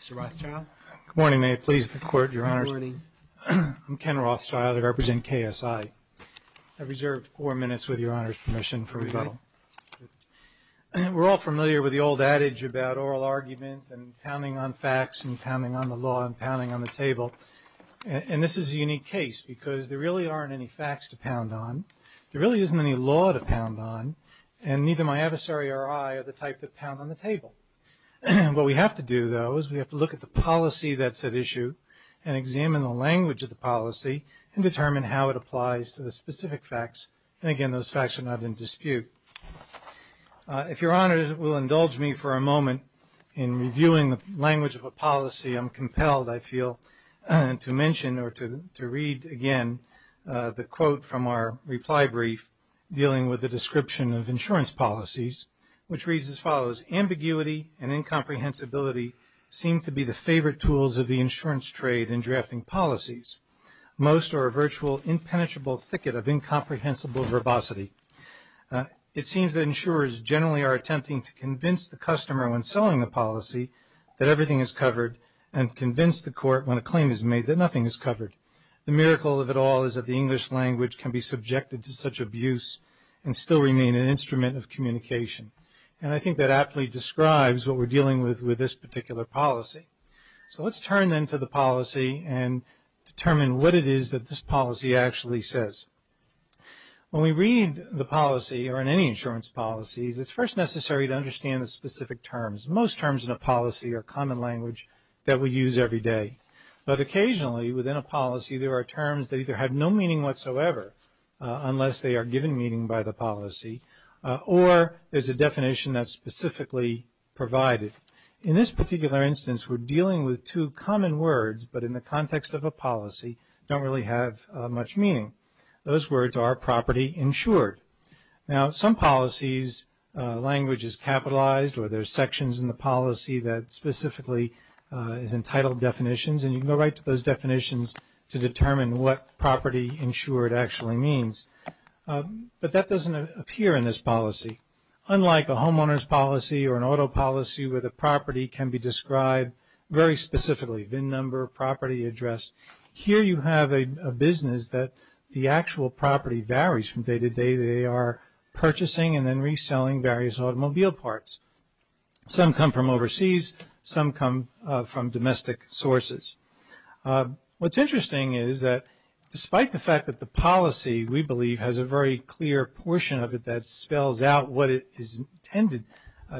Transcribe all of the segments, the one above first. Mr. Rothschild. Good morning. May it please the Court, Your Honors. Good morning. I'm Ken Rothschild. I represent KSI. I reserve four minutes with Your Honor's permission for rebuttal. We're all familiar with the old adage about oral argument and counting on facts and pounding on the law and pounding on the table. And this is a unique case because there really aren't any facts to pound on. There really isn't any law to pound on. And neither my adversary or I are the type to pound on the table. What we have to do, though, is we have to look at the policy that's at issue and examine the language of the policy and determine how it applies to the specific facts. And again, those facts are not in dispute. If Your Honor will indulge me for a moment in reviewing the language of a policy, I'm compelled, I feel, to mention or to read again the quote from our reply brief dealing with the description of insurance policies, which reads as follows, Ambiguity and incomprehensibility seem to be the favorite tools of the insurance trade in drafting policies. Most are a virtual impenetrable thicket of incomprehensible verbosity. It seems that insurers generally are attempting to convince the customer when selling the policy that everything is covered and convince the court when a claim is made that nothing is covered. The miracle of it all is that the English language can be subjected to such abuse and still remain an instrument of communication. And I think that aptly describes what we're dealing with with this particular policy. So let's turn then to the policy and determine what it is that this policy actually says. When we read the policy or in any insurance policies, it's first necessary to understand the specific terms. Most terms in a policy are common language that we use every day. But occasionally within a policy, there are terms that either have no meaning whatsoever unless they are given meaning by the policy or there's a definition that's For instance, we're dealing with two common words, but in the context of a policy, don't really have much meaning. Those words are property insured. Now some policies, language is capitalized or there's sections in the policy that specifically is entitled definitions and you can go right to those definitions to determine what property insured actually means. But that doesn't appear in this policy. Unlike a homeowner's policy or an auto policy where the property can be described very specifically, VIN number, property address. Here you have a business that the actual property varies from day to day. They are purchasing and then reselling various automobile parts. Some come from overseas, some come from domestic sources. What's interesting is that despite the fact that the policy we believe has a very clear portion of it that spells out what it is intended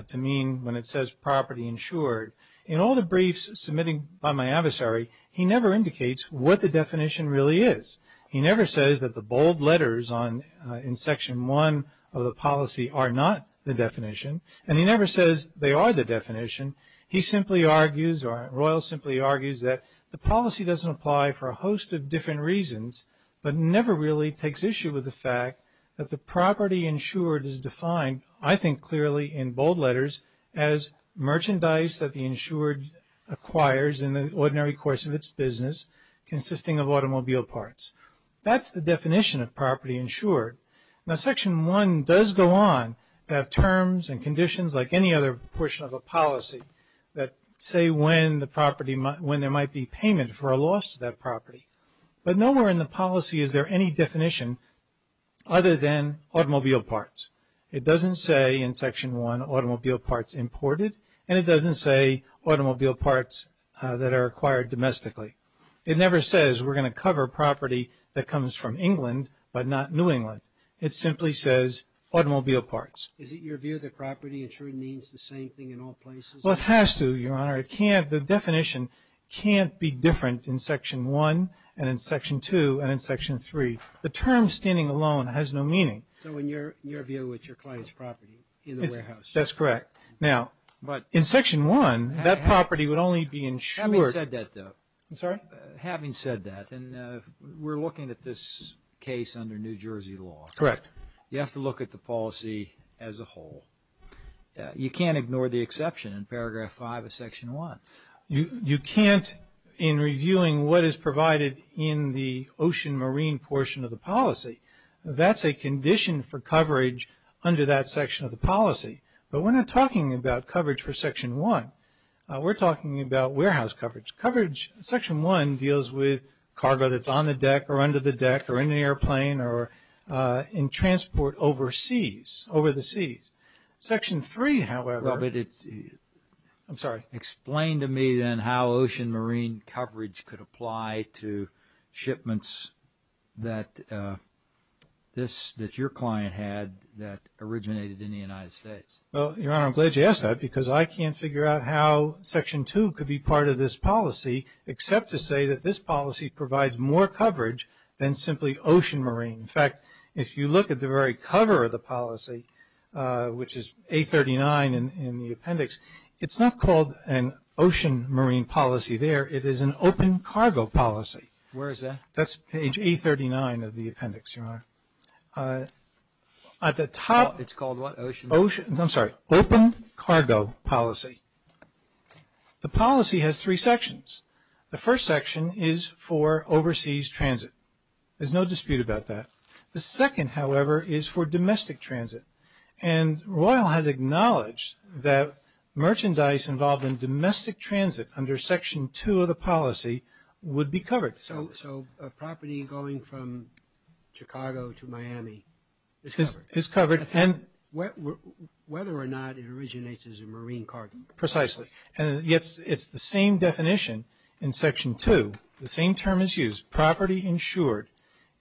to mean when it says property insured, in all the briefs submitted by my adversary, he never indicates what the definition really is. He never says that the bold letters in section one of the policy are not the definition and he never says they are the definition. He simply argues or Royle simply argues that the policy doesn't apply for a host of different reasons but never really takes issue with the fact that the property insured is defined I think clearly in bold letters as merchandise that the insured acquires in the ordinary course of its business consisting of automobile parts. That's the definition of property insured. Now section one does go on to have terms and conditions like any other portion of a policy that say when there might be payment for a property. But nowhere in the policy is there any definition other than automobile parts. It doesn't say in section one automobile parts imported and it doesn't say automobile parts that are acquired domestically. It never says we're going to cover property that comes from England but not New England. It simply says automobile parts. Is it your view that property insured means the same thing in all places? Well it has to your honor. The definition can't be different in section one and in section two and in section three. The term standing alone has no meaning. So in your view it's your client's property in the warehouse? That's correct. Now but in section one that property would only be insured. Having said that though. I'm sorry? Having said that and we're looking at this case under New Jersey law. Correct. You have to look at the policy as a whole. You can't ignore the exception in paragraph five of section one. You can't in reviewing what is provided in the ocean marine portion of the policy. That's a condition for coverage under that section of the policy. But we're not talking about coverage for section one. We're talking about warehouse coverage. Coverage section one deals with cargo that's on the deck or under the deck or in the airplane or in transport overseas. Over the seas. Section three however. Well but it's. I'm sorry. Explain to me then how ocean marine coverage could apply to shipments that this that your client had that originated in the United States. Well your honor I'm glad you asked that because I can't figure out how section two could be part of this policy except to say that this policy provides more coverage than simply ocean marine. In fact if you look at the very cover of the policy which is 839 in the appendix. It's not called an ocean marine policy there. It is an open cargo policy. Where is that? That's page 839 of the appendix your honor. At the top. It's called what? Ocean? I'm sorry. Open cargo policy. The policy has three sections. The first section is for overseas transit. There's no dispute about that. The second however is for domestic transit. And Royal has acknowledged that merchandise involved in domestic transit under section two of the policy would be covered. So a property going from Chicago to Miami is covered. Whether or not it originates as a marine cargo. Precisely. And it's the same definition in section two. The same term is used. Property insured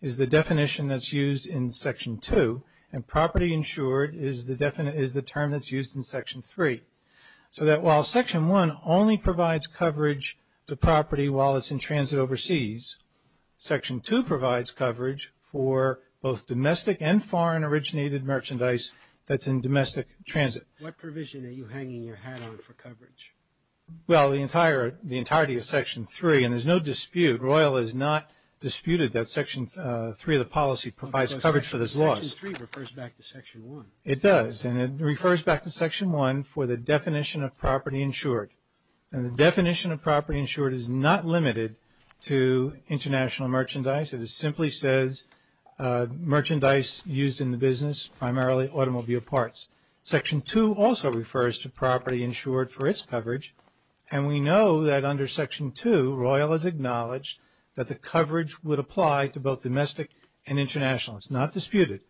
is the definition that's used in section two. And property insured is the term that's used in section three. So that while section one only provides coverage to property while it's in transit overseas. Section two provides coverage for both domestic and foreign originated merchandise that's in domestic transit. What provision are you hanging your hat on for coverage? Well the entire, the entirety of section three. And there's no dispute. Royal has not disputed that section three of the policy provides coverage for this loss. Section three refers back to section one. It does. And it refers back to section one for the definition of property insured. And the definition of property insured is not limited to international merchandise. It simply says merchandise used in the business, primarily automobile parts. Section two also refers to property insured for its coverage. And we know that under section two, Royal has acknowledged that the coverage would apply to both domestic and international. It's not disputed.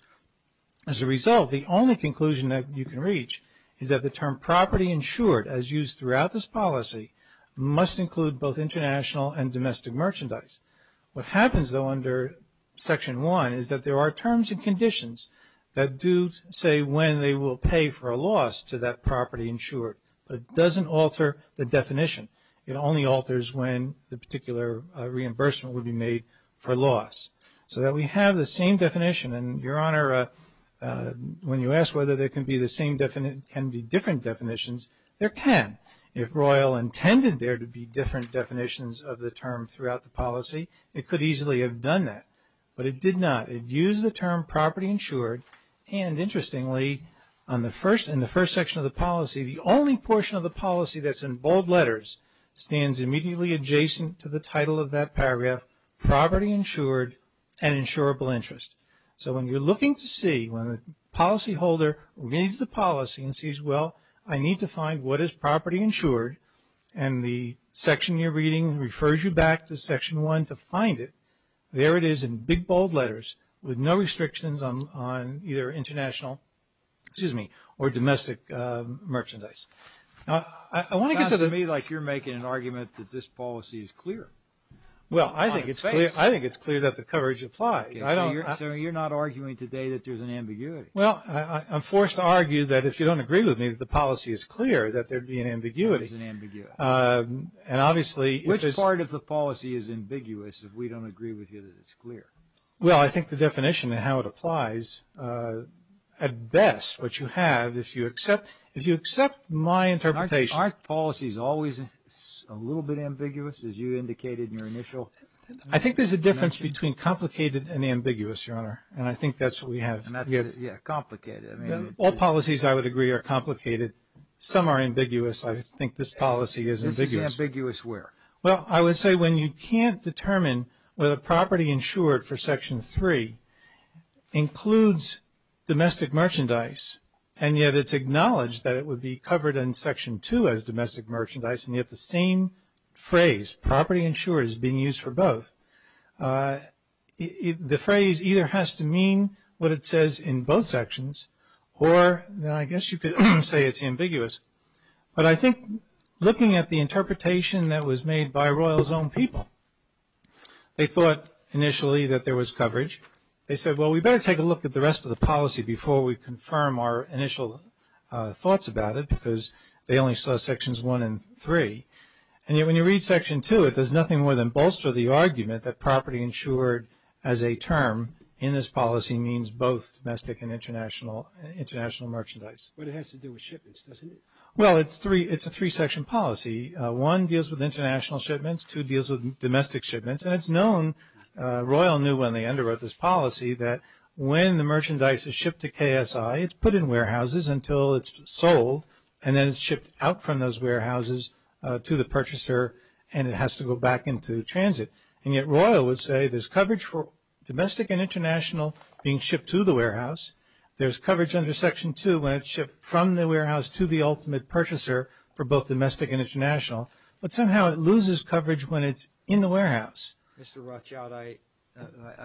As a result, the only conclusion that you can reach is that the term property insured, as used throughout this policy, must include both international and domestic merchandise. What happens though under section one is that there are terms and conditions that do say when they will pay for a loss to that property insured. But it doesn't alter the definition. It only alters when the particular reimbursement would be made for loss. So that we have the same definition. And, Your Honor, when you ask whether there can be different definitions, there can. If Royal intended there to be different definitions of the term throughout the policy, it could easily have done that. But it did not. It used the term property insured and, interestingly, in the first section of the policy, the only portion of the policy that's in bold letters stands immediately adjacent to the title of that paragraph, property insured and insurable interest. So when you're looking to see, when a policyholder reads the policy and sees, well, I need to find what is property insured, and the section you're reading refers you back to section one to find it, there it is in big, bold letters with no restrictions on either international, excuse me, or domestic merchandise. Now, I want to get to the... It sounds to me like you're making an argument that this policy is clear. Well, I think it's clear that the coverage applies. So you're not arguing today that there's an ambiguity? Well, I'm forced to argue that if you don't agree with me that the policy is clear, that there'd be an ambiguity. There's an ambiguity. And obviously... Which part of the policy is ambiguous if we don't agree with you that it's clear? Well, I think the definition and how it applies, at best, what you have, if you accept my interpretation... Is it always a little bit ambiguous, as you indicated in your initial... I think there's a difference between complicated and ambiguous, Your Honor, and I think that's what we have. And that's, yeah, complicated. All policies, I would agree, are complicated. Some are ambiguous. I think this policy is ambiguous. This is ambiguous where? Well, I would say when you can't determine whether property insured for section three includes domestic merchandise, and yet it's acknowledged that it would be covered in section two as domestic merchandise, and yet the same phrase, property insured, is being used for both. The phrase either has to mean what it says in both sections, or I guess you could say it's ambiguous. But I think looking at the interpretation that was made by Royal's own people, they thought initially that there was coverage. They said, well, we better take a look at the rest of the policy before we confirm our initial thoughts about it, because they only saw sections one and three. And yet when you read section two, it does nothing more than bolster the argument that property insured as a term in this policy means both domestic and international merchandise. But it has to do with shipments, doesn't it? Well, it's a three-section policy. One deals with international shipments. Two deals with domestic shipments. And it's known, Royal knew when they underwrote this policy, that when the merchandise is shipped to KSI, it's put in warehouses until it's sold, and then it's shipped out from those warehouses to the purchaser, and it has to go back into transit. And yet Royal would say there's coverage for domestic and international being shipped to the warehouse. There's coverage under section two when it's shipped from the warehouse to the ultimate purchaser for both domestic and international. But somehow it loses coverage when it's in the warehouse. Mr. Rothschild, I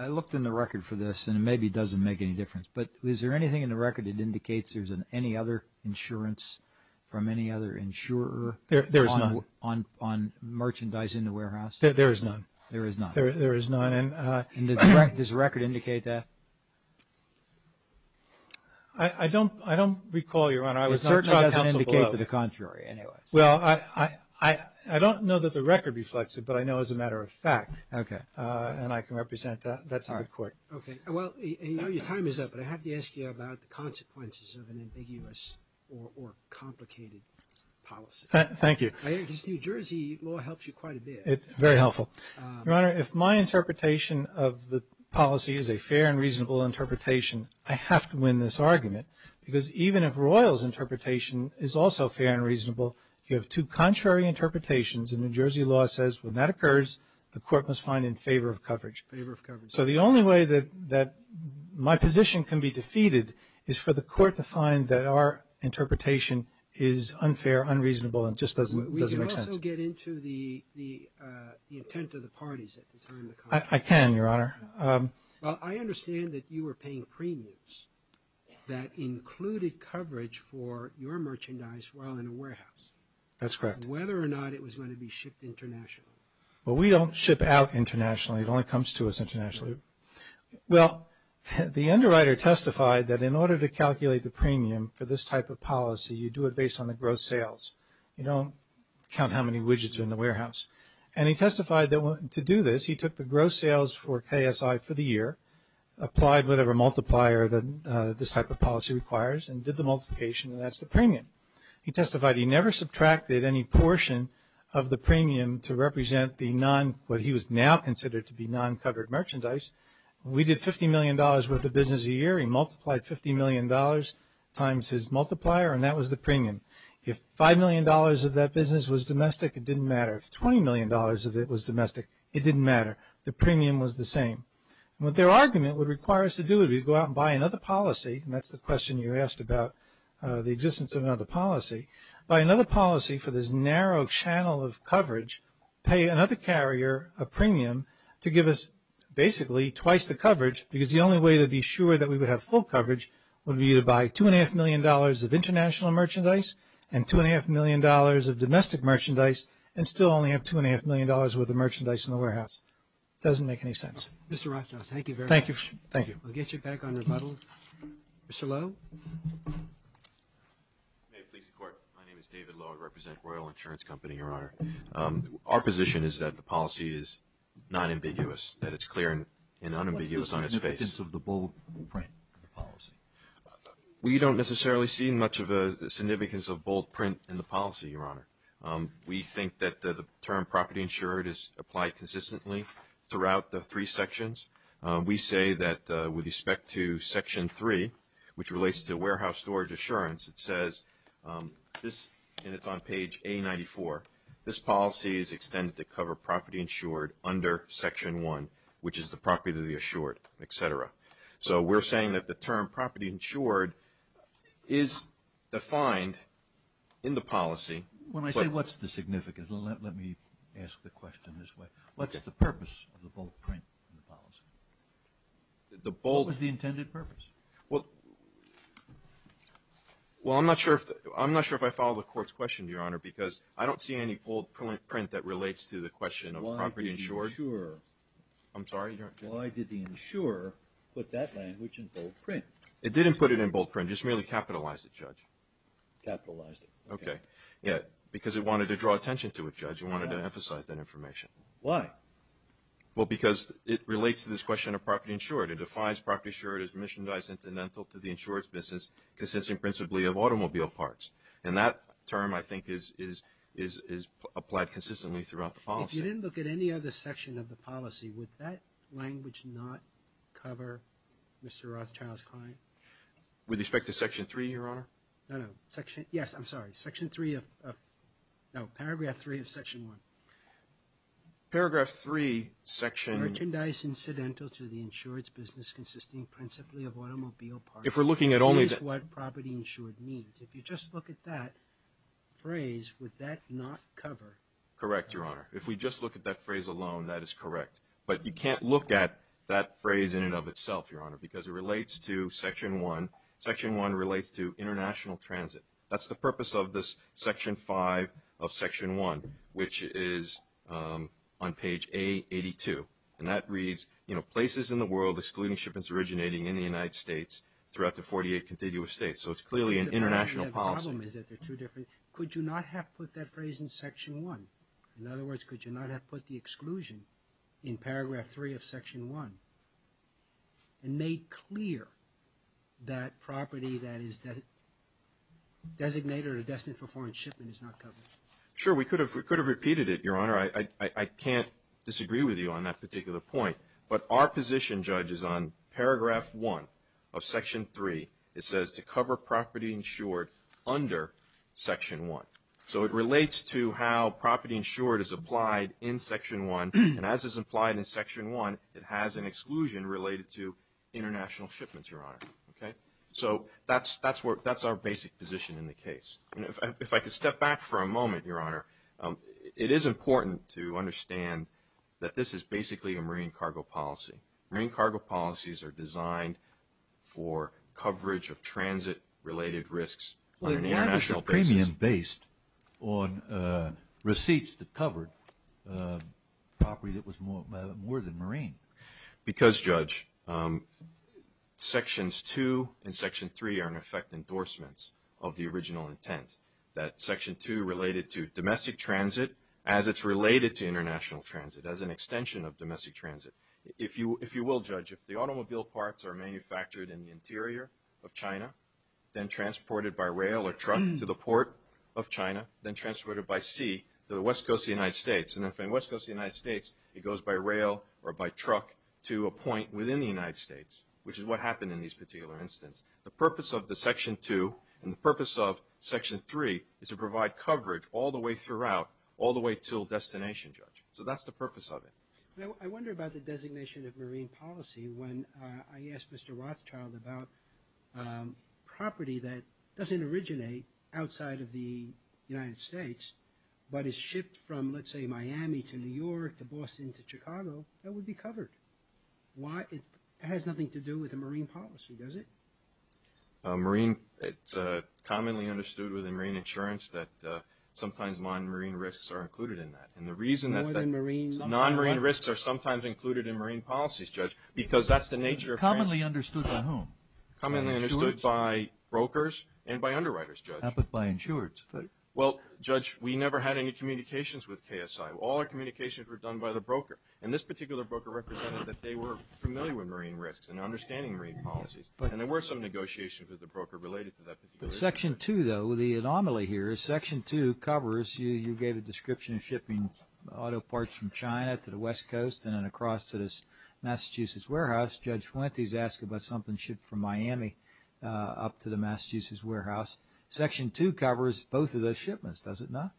looked in the record for this, and it maybe doesn't make any difference. But is there anything in the record that indicates there's any other insurance from any other insurer on merchandise in the warehouse? There is none. There is none. There is none. And does the record indicate that? I don't recall, Your Honor. I was not on counsel below. It certainly doesn't indicate to the contrary, anyways. Well, I don't know that the record reflects it, but I know as a matter of fact. Okay. And I can represent that to the court. Okay. Well, I know your time is up, but I have to ask you about the consequences of an ambiguous or complicated policy. Thank you. Because New Jersey law helps you quite a bit. Very helpful. Your Honor, if my interpretation of the policy is a fair and reasonable interpretation, I have to win this argument. Because even if Royall's interpretation is also fair and reasonable, you have two contrary interpretations. And New Jersey law says when that occurs, the court must find in favor of coverage. Favor of coverage. So the only way that my position can be defeated is for the court to find that our interpretation is unfair, unreasonable, and just doesn't make sense. We can also get into the intent of the parties at the time of the conflict. I can, Your Honor. Well, I understand that you were paying premiums that included coverage for your merchandise while in a warehouse. That's correct. Whether or not it was going to be shipped internationally. Well, we don't ship out internationally. It only comes to us internationally. Well, the underwriter testified that in order to calculate the premium for this type of policy, you do it based on the gross sales. You don't count how many widgets are in the warehouse. And he testified that to do this, he took the gross sales for KSI for the year, applied whatever multiplier that this type of policy requires, and did the multiplication. And that's the premium. He testified he never subtracted any portion of the premium to represent what he was now considered to be non-covered merchandise. We did $50 million worth of business a year. He multiplied $50 million times his multiplier. And that was the premium. If $5 million of that business was domestic, it didn't matter. If $20 million of it was domestic, it didn't matter. The premium was the same. What their argument would require us to do is we'd go out and buy another policy. And that's the question you asked about the existence of another policy. Buy another policy for this narrow channel of coverage. Pay another carrier a premium to give us basically twice the coverage. Because the only way to be sure that we would have full coverage would be to buy $2.5 million of international merchandise and $2.5 million of domestic merchandise and still only have $2.5 million worth of merchandise in the warehouse. Doesn't make any sense. Mr. Rothschild, thank you very much. Thank you. We'll get you back on rebuttal. Mr. Lowe. May it please the Court. My name is David Lowe. I represent Royal Insurance Company, Your Honor. Our position is that the policy is non-ambiguous, that it's clear and unambiguous on its face. What's the significance of the bold print of the policy? We don't necessarily see much of a significance of bold print in the policy, Your Honor. We think that the term property insured is applied consistently throughout the three sections. We say that with respect to Section 3, which relates to warehouse storage assurance, it says, and it's on page A94, this policy is extended to cover property insured under Section 1, which is the property to be assured, et cetera. So we're saying that the term property insured is defined in the policy. When I say what's the significance, let me ask the question this way. What's the purpose of the bold print in the policy? The bold... What was the intended purpose? Well, I'm not sure if I follow the Court's question, Your Honor, because I don't see any bold print that relates to the question of property insured. Why did the insurer... I'm sorry? Why did the insurer put that language in bold print? It didn't put it in bold print. It just merely capitalized it, Judge. Capitalized it. Okay. Yeah, because it wanted to draw attention to it, Judge. It wanted to emphasize that information. Why? Well, because it relates to this question of property insured. It defines property insured as missionized incidental to the insurer's business, consisting principally of automobile parts. And that term, I think, is applied consistently throughout the policy. If you didn't look at any other section of the policy, would that language not cover Mr. Rothschild's claim? With respect to Section 3, Your Honor? No, no. Section... Yes, I'm sorry. Section 3 of... No, Paragraph 3 of Section 1. Paragraph 3, Section... Merchandise incidental to the insurer's business, consisting principally of automobile parts. If we're looking at only... That is what property insured means. If you just look at that phrase, would that not cover... Correct, Your Honor. If we just look at that phrase alone, that is correct. But you can't look at that phrase in and of itself, Your Honor, because it relates to Section 1. Section 1 relates to international transit. That's the purpose of this Section 5 of Section 1, which is on page A82. And that reads, you know, places in the world excluding shipments originating in the United States throughout the 48 contiguous states. So it's clearly an international policy. The problem is that they're two different... Could you not have put that phrase in Section 1? In other words, could you not have put the exclusion in Paragraph 3 of Section 1 and made clear that property that is designated or destined for foreign shipment is not covered? Sure. We could have repeated it, Your Honor. I can't disagree with you on that particular point. But our position, Judge, is on Paragraph 1 of Section 3. It says to cover property insured under Section 1. So it relates to how property insured is applied in Section 1. And as is applied in Section 1, it has an exclusion related to international shipments, Your Honor. Okay? So that's our basic position in the case. If I could step back for a moment, Your Honor, it is important to understand that this is basically a marine cargo policy. Marine cargo policies are designed for coverage of transit-related risks on an international basis. Why was the premium based on receipts that covered property that was more than marine? Because, Judge, Sections 2 and Section 3 are, in effect, endorsements of the original intent, that Section 2 related to domestic transit as it's related to international transit, as an extension of domestic transit. If you will, Judge, if the automobile parts are manufactured in the interior of China, then transported by rail or truck to the port of China, then transported by sea to the West Coast of the United States, and if in the West Coast of the United States it goes by rail or by truck to a point within the United States, which is what happened in this particular instance, the purpose of the Section 2 and the purpose of Section 3 is to provide coverage all the way throughout, all the way till destination, Judge. So that's the purpose of it. I wonder about the designation of marine policy when I asked Mr. Rothschild about property that doesn't originate outside of the United States, but is shipped from, let's say, Miami to New York to Boston to Chicago, that would be covered. Why, it has nothing to do with the marine policy, does it? Marine, it's commonly understood within marine insurance that sometimes non-marine risks are included in that, and the reason that non-marine risks are sometimes included in marine policies, Judge, because that's the nature of... Commonly understood by whom? Commonly understood by brokers and by underwriters, Judge. How about by insurers? Well, Judge, we never had any communications with KSI. All our communications were done by the broker, and this particular broker represented that they were familiar with marine risks and understanding marine policies, and there were some negotiations with the broker related to that particular issue. Section 2, though, the anomaly here is Section 2 covers, you gave a description of shipping auto parts from China to the West Coast and then across to this Massachusetts warehouse. Judge Fuentes asked about something shipped from Miami up to the Massachusetts warehouse. Section 2 covers both of those shipments, does it not?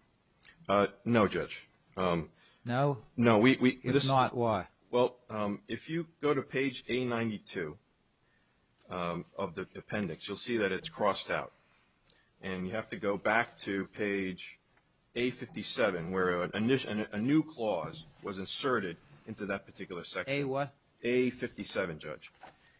No, Judge. No? No, we... If not, why? Well, if you go to page A92 of the appendix, you'll see that it's crossed out, and you have to go back to page A57 where a new clause was inserted into that particular section. A what? A57, Judge.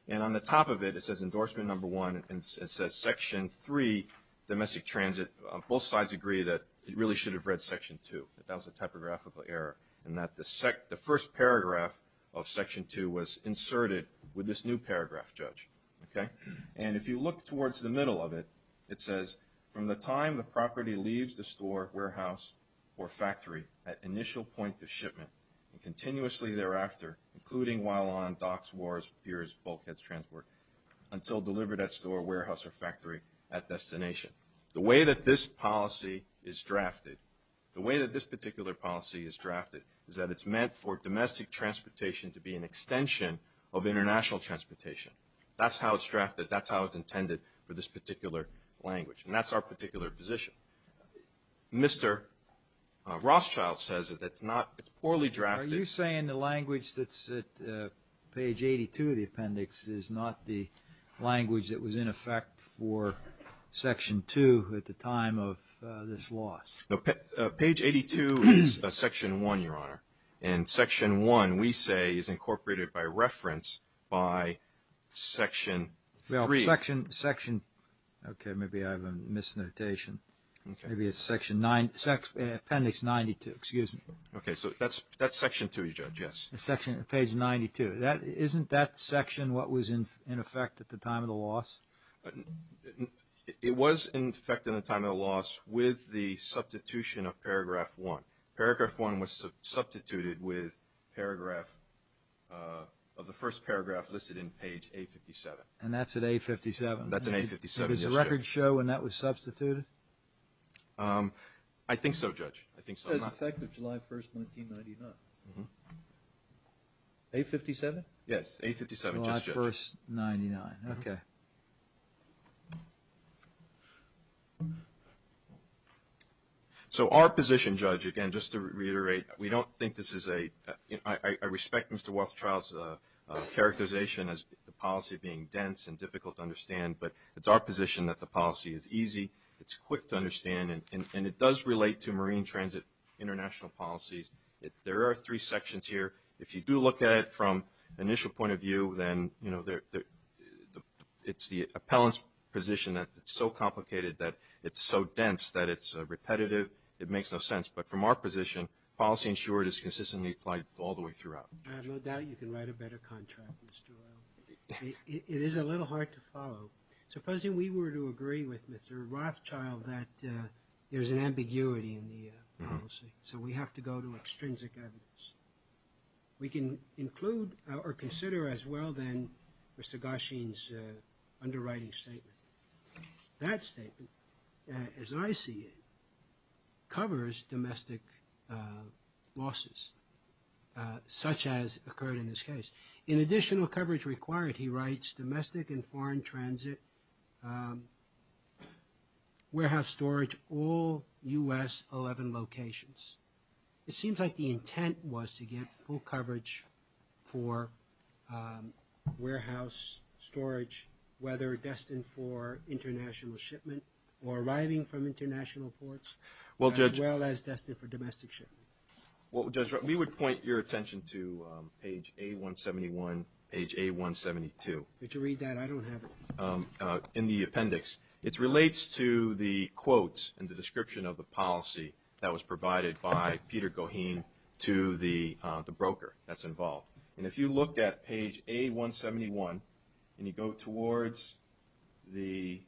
And on the top of it, it says Endorsement No. 1 and it says Section 3, Domestic Transit. Both sides agree that it really should have read Section 2, that that was a typographical error and that the first paragraph of Section 2 was inserted with this new paragraph, Judge. Okay? And if you look towards the middle of it, it says, From the time the property leaves the store, warehouse, or factory at initial point of shipment, and continuously thereafter, including while on docks, wharves, piers, bulkheads, transport, until delivered at store, warehouse, or factory at destination. The way that this policy is drafted, the way that this particular policy is drafted is that it's meant for domestic transportation to be an extension of international transportation. That's how it's drafted. That's how it's intended for this particular language. And that's our particular position. Mr. Rothschild says that it's poorly drafted. Are you saying the language that's at page 82 of the appendix is not the language that was in effect for Section 2 Page 82 is Section 1, Your Honor. And Section 1, we say, is incorporated by reference by Section 3. Well, Section... Okay, maybe I have a misnotation. Maybe it's Section 9, Appendix 92. Excuse me. Okay, so that's Section 2, Your Judge, yes. Page 92. Isn't that section what was in effect at the time of the loss? It was in effect at the time of the loss with the substitution of Paragraph 1. Paragraph 1 was substituted with paragraph... of the first paragraph listed in page A57. And that's at A57? That's at A57, yes, Judge. Did the records show when that was substituted? I think so, Judge. I think so. It says, in effect of July 1st, 1999. A57? Yes, A57. July 1st, 1999. Okay. So, our position, Judge, again, just to reiterate, we don't think this is a... I respect Mr. Wealthtraut's characterization as the policy being dense and difficult to understand, but it's our position that the policy is easy, it's quick to understand, and it does relate to Marine Transit international policies. There are three sections here. If you do look at it from an initial point of view, then, you know, the... It's the appellant's position that it's so complicated that it's so dense that it's repetitive, it makes no sense. But from our position, policy ensured is consistently applied all the way throughout. I have no doubt you can write a better contract, Mr. Wealth. It is a little hard to follow. Supposing we were to agree with Mr. Rothschild that there's an ambiguity in the policy, so we have to go to extrinsic evidence. We can include or consider as well, then, Mr. Gosheen's underwriting statement. That statement, as I see it, covers domestic losses, such as occurred in this case. In additional coverage required, he writes, domestic and foreign transit, warehouse storage, all U.S. 11 locations. It seems like the intent was to get full coverage for warehouse storage, whether destined for international shipment or arriving from international ports, as well as destined for domestic shipment. We would point your attention to page A171, page A172. But you read that, I don't have it. In the appendix, it relates to the quotes and the description of the policy that was provided by Peter Gosheen to the broker that's involved. If you look at page A171, and you go towards the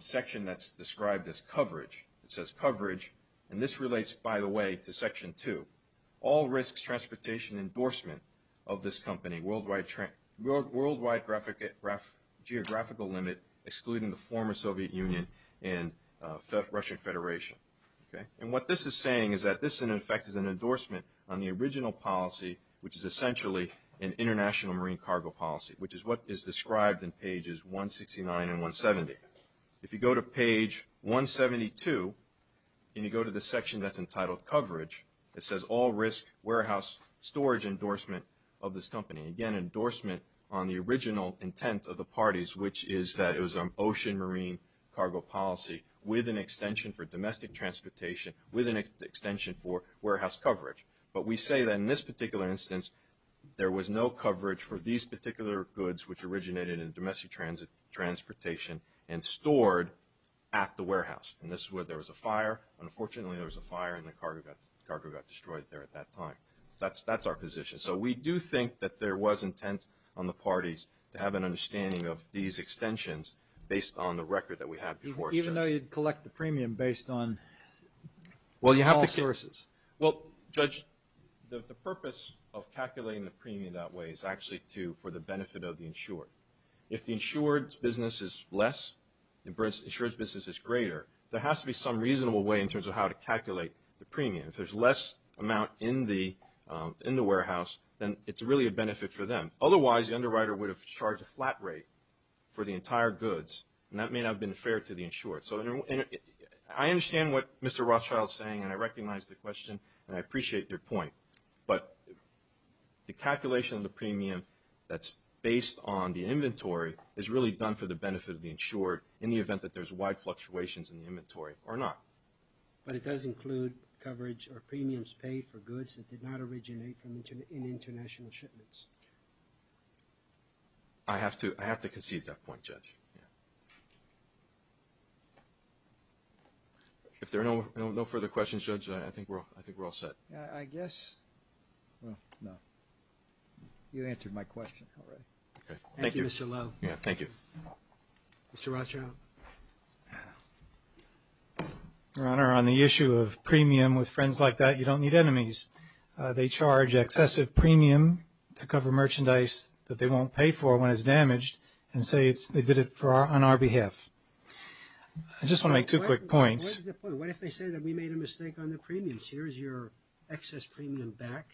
section that's described as coverage, it says coverage, and this relates, by the way, to section two. All risks, transportation, endorsement of this company, worldwide geographical limit, excluding the former Soviet Union and Russian Federation. What this is saying is that this, in effect, is an endorsement on the original policy, which is essentially an international marine cargo policy, which is what is described in pages 169 and 170. If you go to page 172, and you go to the section that's entitled coverage, it says all risk, warehouse, storage, endorsement of this company. Again, endorsement on the original intent of the parties, which is that it was an ocean marine cargo policy with an extension for domestic transportation, with an extension for warehouse coverage. But we say that in this particular instance, there was no coverage for these particular goods which originated in domestic transportation and stored at the warehouse. And this is where there was a fire. Unfortunately, there was a fire, and the cargo got destroyed there at that time. That's our position. So we do think that there was intent on the parties to have an understanding of these extensions based on the record that we had before. Even though you'd collect the premium based on all sources. The purpose of calculating the premium that way is actually for the benefit of the insured. If the insured's business is less, the insured's business is greater, there has to be some reasonable way in terms of how to calculate the premium. If there's less amount in the warehouse, then it's really a benefit for them. Otherwise, the underwriter would have charged a flat rate for the entire goods, and that may not have been fair to the insured. I understand what Mr. Rothschild's saying, and I recognize the question, and I appreciate your point. But the calculation of the premium that's based on the inventory is really done for the benefit of the insured in the event that there's wide fluctuations in the inventory or not. But it does include coverage or premiums paid for goods that did not originate in international shipments. I have to concede that point, Judge. If there are no further questions, Judge, I think we're all set. I guess... Well, no. You answered my question already. Thank you, Mr. Lowe. Mr. Rothschild. Your Honor, on the issue of premium with friends like that, you don't need enemies. They charge excessive premium to cover merchandise that they won't pay for when it's damaged and say they did it on our behalf. I just want to make two quick points. What if they say that we made a mistake on the premiums? Here's your excess premium back,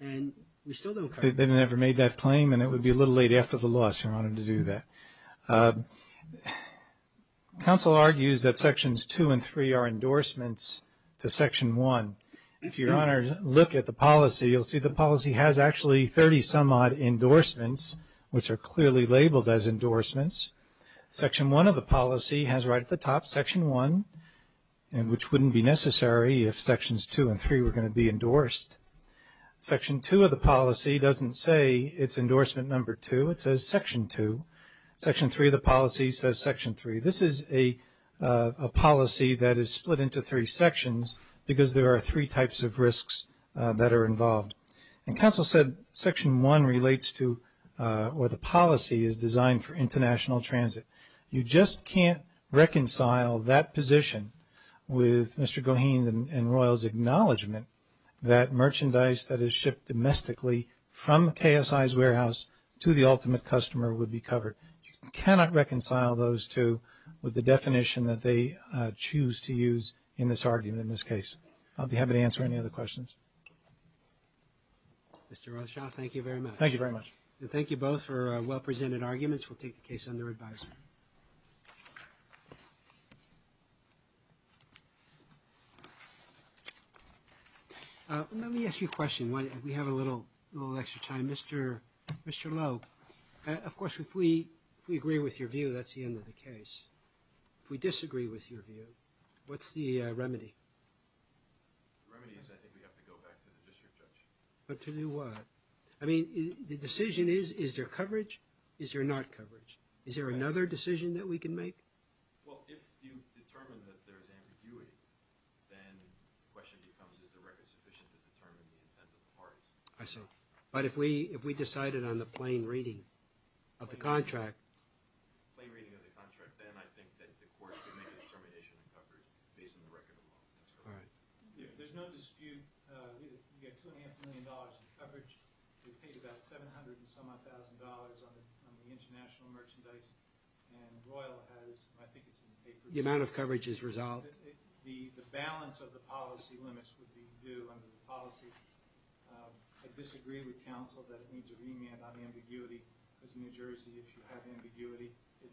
and we still don't... They've never made that claim, and it would be a little late after the loss, Your Honor, to do that. Counsel argues that Sections 2 and 3 are endorsements to Section 1. If Your Honor look at the policy, you'll see the policy has actually 30-some-odd endorsements, which are clearly labeled as endorsements. Section 1 of the policy has right at the top Section 1, which wouldn't be necessary if Sections 2 and 3 were going to be endorsed. Section 2 of the policy doesn't say it's endorsement number 2. It says Section 2. Section 3 of the policy says Section 3. This is a policy that is split into three sections because there are three types of risks that are involved. And counsel said Section 1 relates to... You just can't reconcile that position with Mr. Goheen and Royal's acknowledgement that merchandise that is shipped domestically from KSI's warehouse to the ultimate customer would be covered. You cannot reconcile those two with the definition that they choose to use in this argument in this case. I'll be happy to answer any other questions. Mr. Rothschild, thank you very much. Thank you very much. And thank you both for well-presented arguments. We'll take the case under advisory. Let me ask you a question. We have a little extra time. Mr. Lowe, of course, if we agree with your view, that's the end of the case. If we disagree with your view, what's the remedy? The remedy is I think we have to go back to the district judge. But to do what? I mean, the decision is, is there coverage? Is there not coverage? Is there another decision that we can make? Well, if you determine that there's ambiguity, then the question becomes is the record sufficient to determine the intent of the parties? I see. But if we decided on the plain reading of the contract... Plain reading of the contract, then I think that the court could make a determination of coverage based on the record of law. There's no dispute. We have $2.5 million in coverage. We've paid about $700,000 on the international merchandise. And Royal has, I think it's in the papers... The amount of coverage is resolved. The balance of the policy limits would be due under the policy. I disagree with counsel that it needs a remand on ambiguity. Because New Jersey, if you have ambiguity, it must be remanded.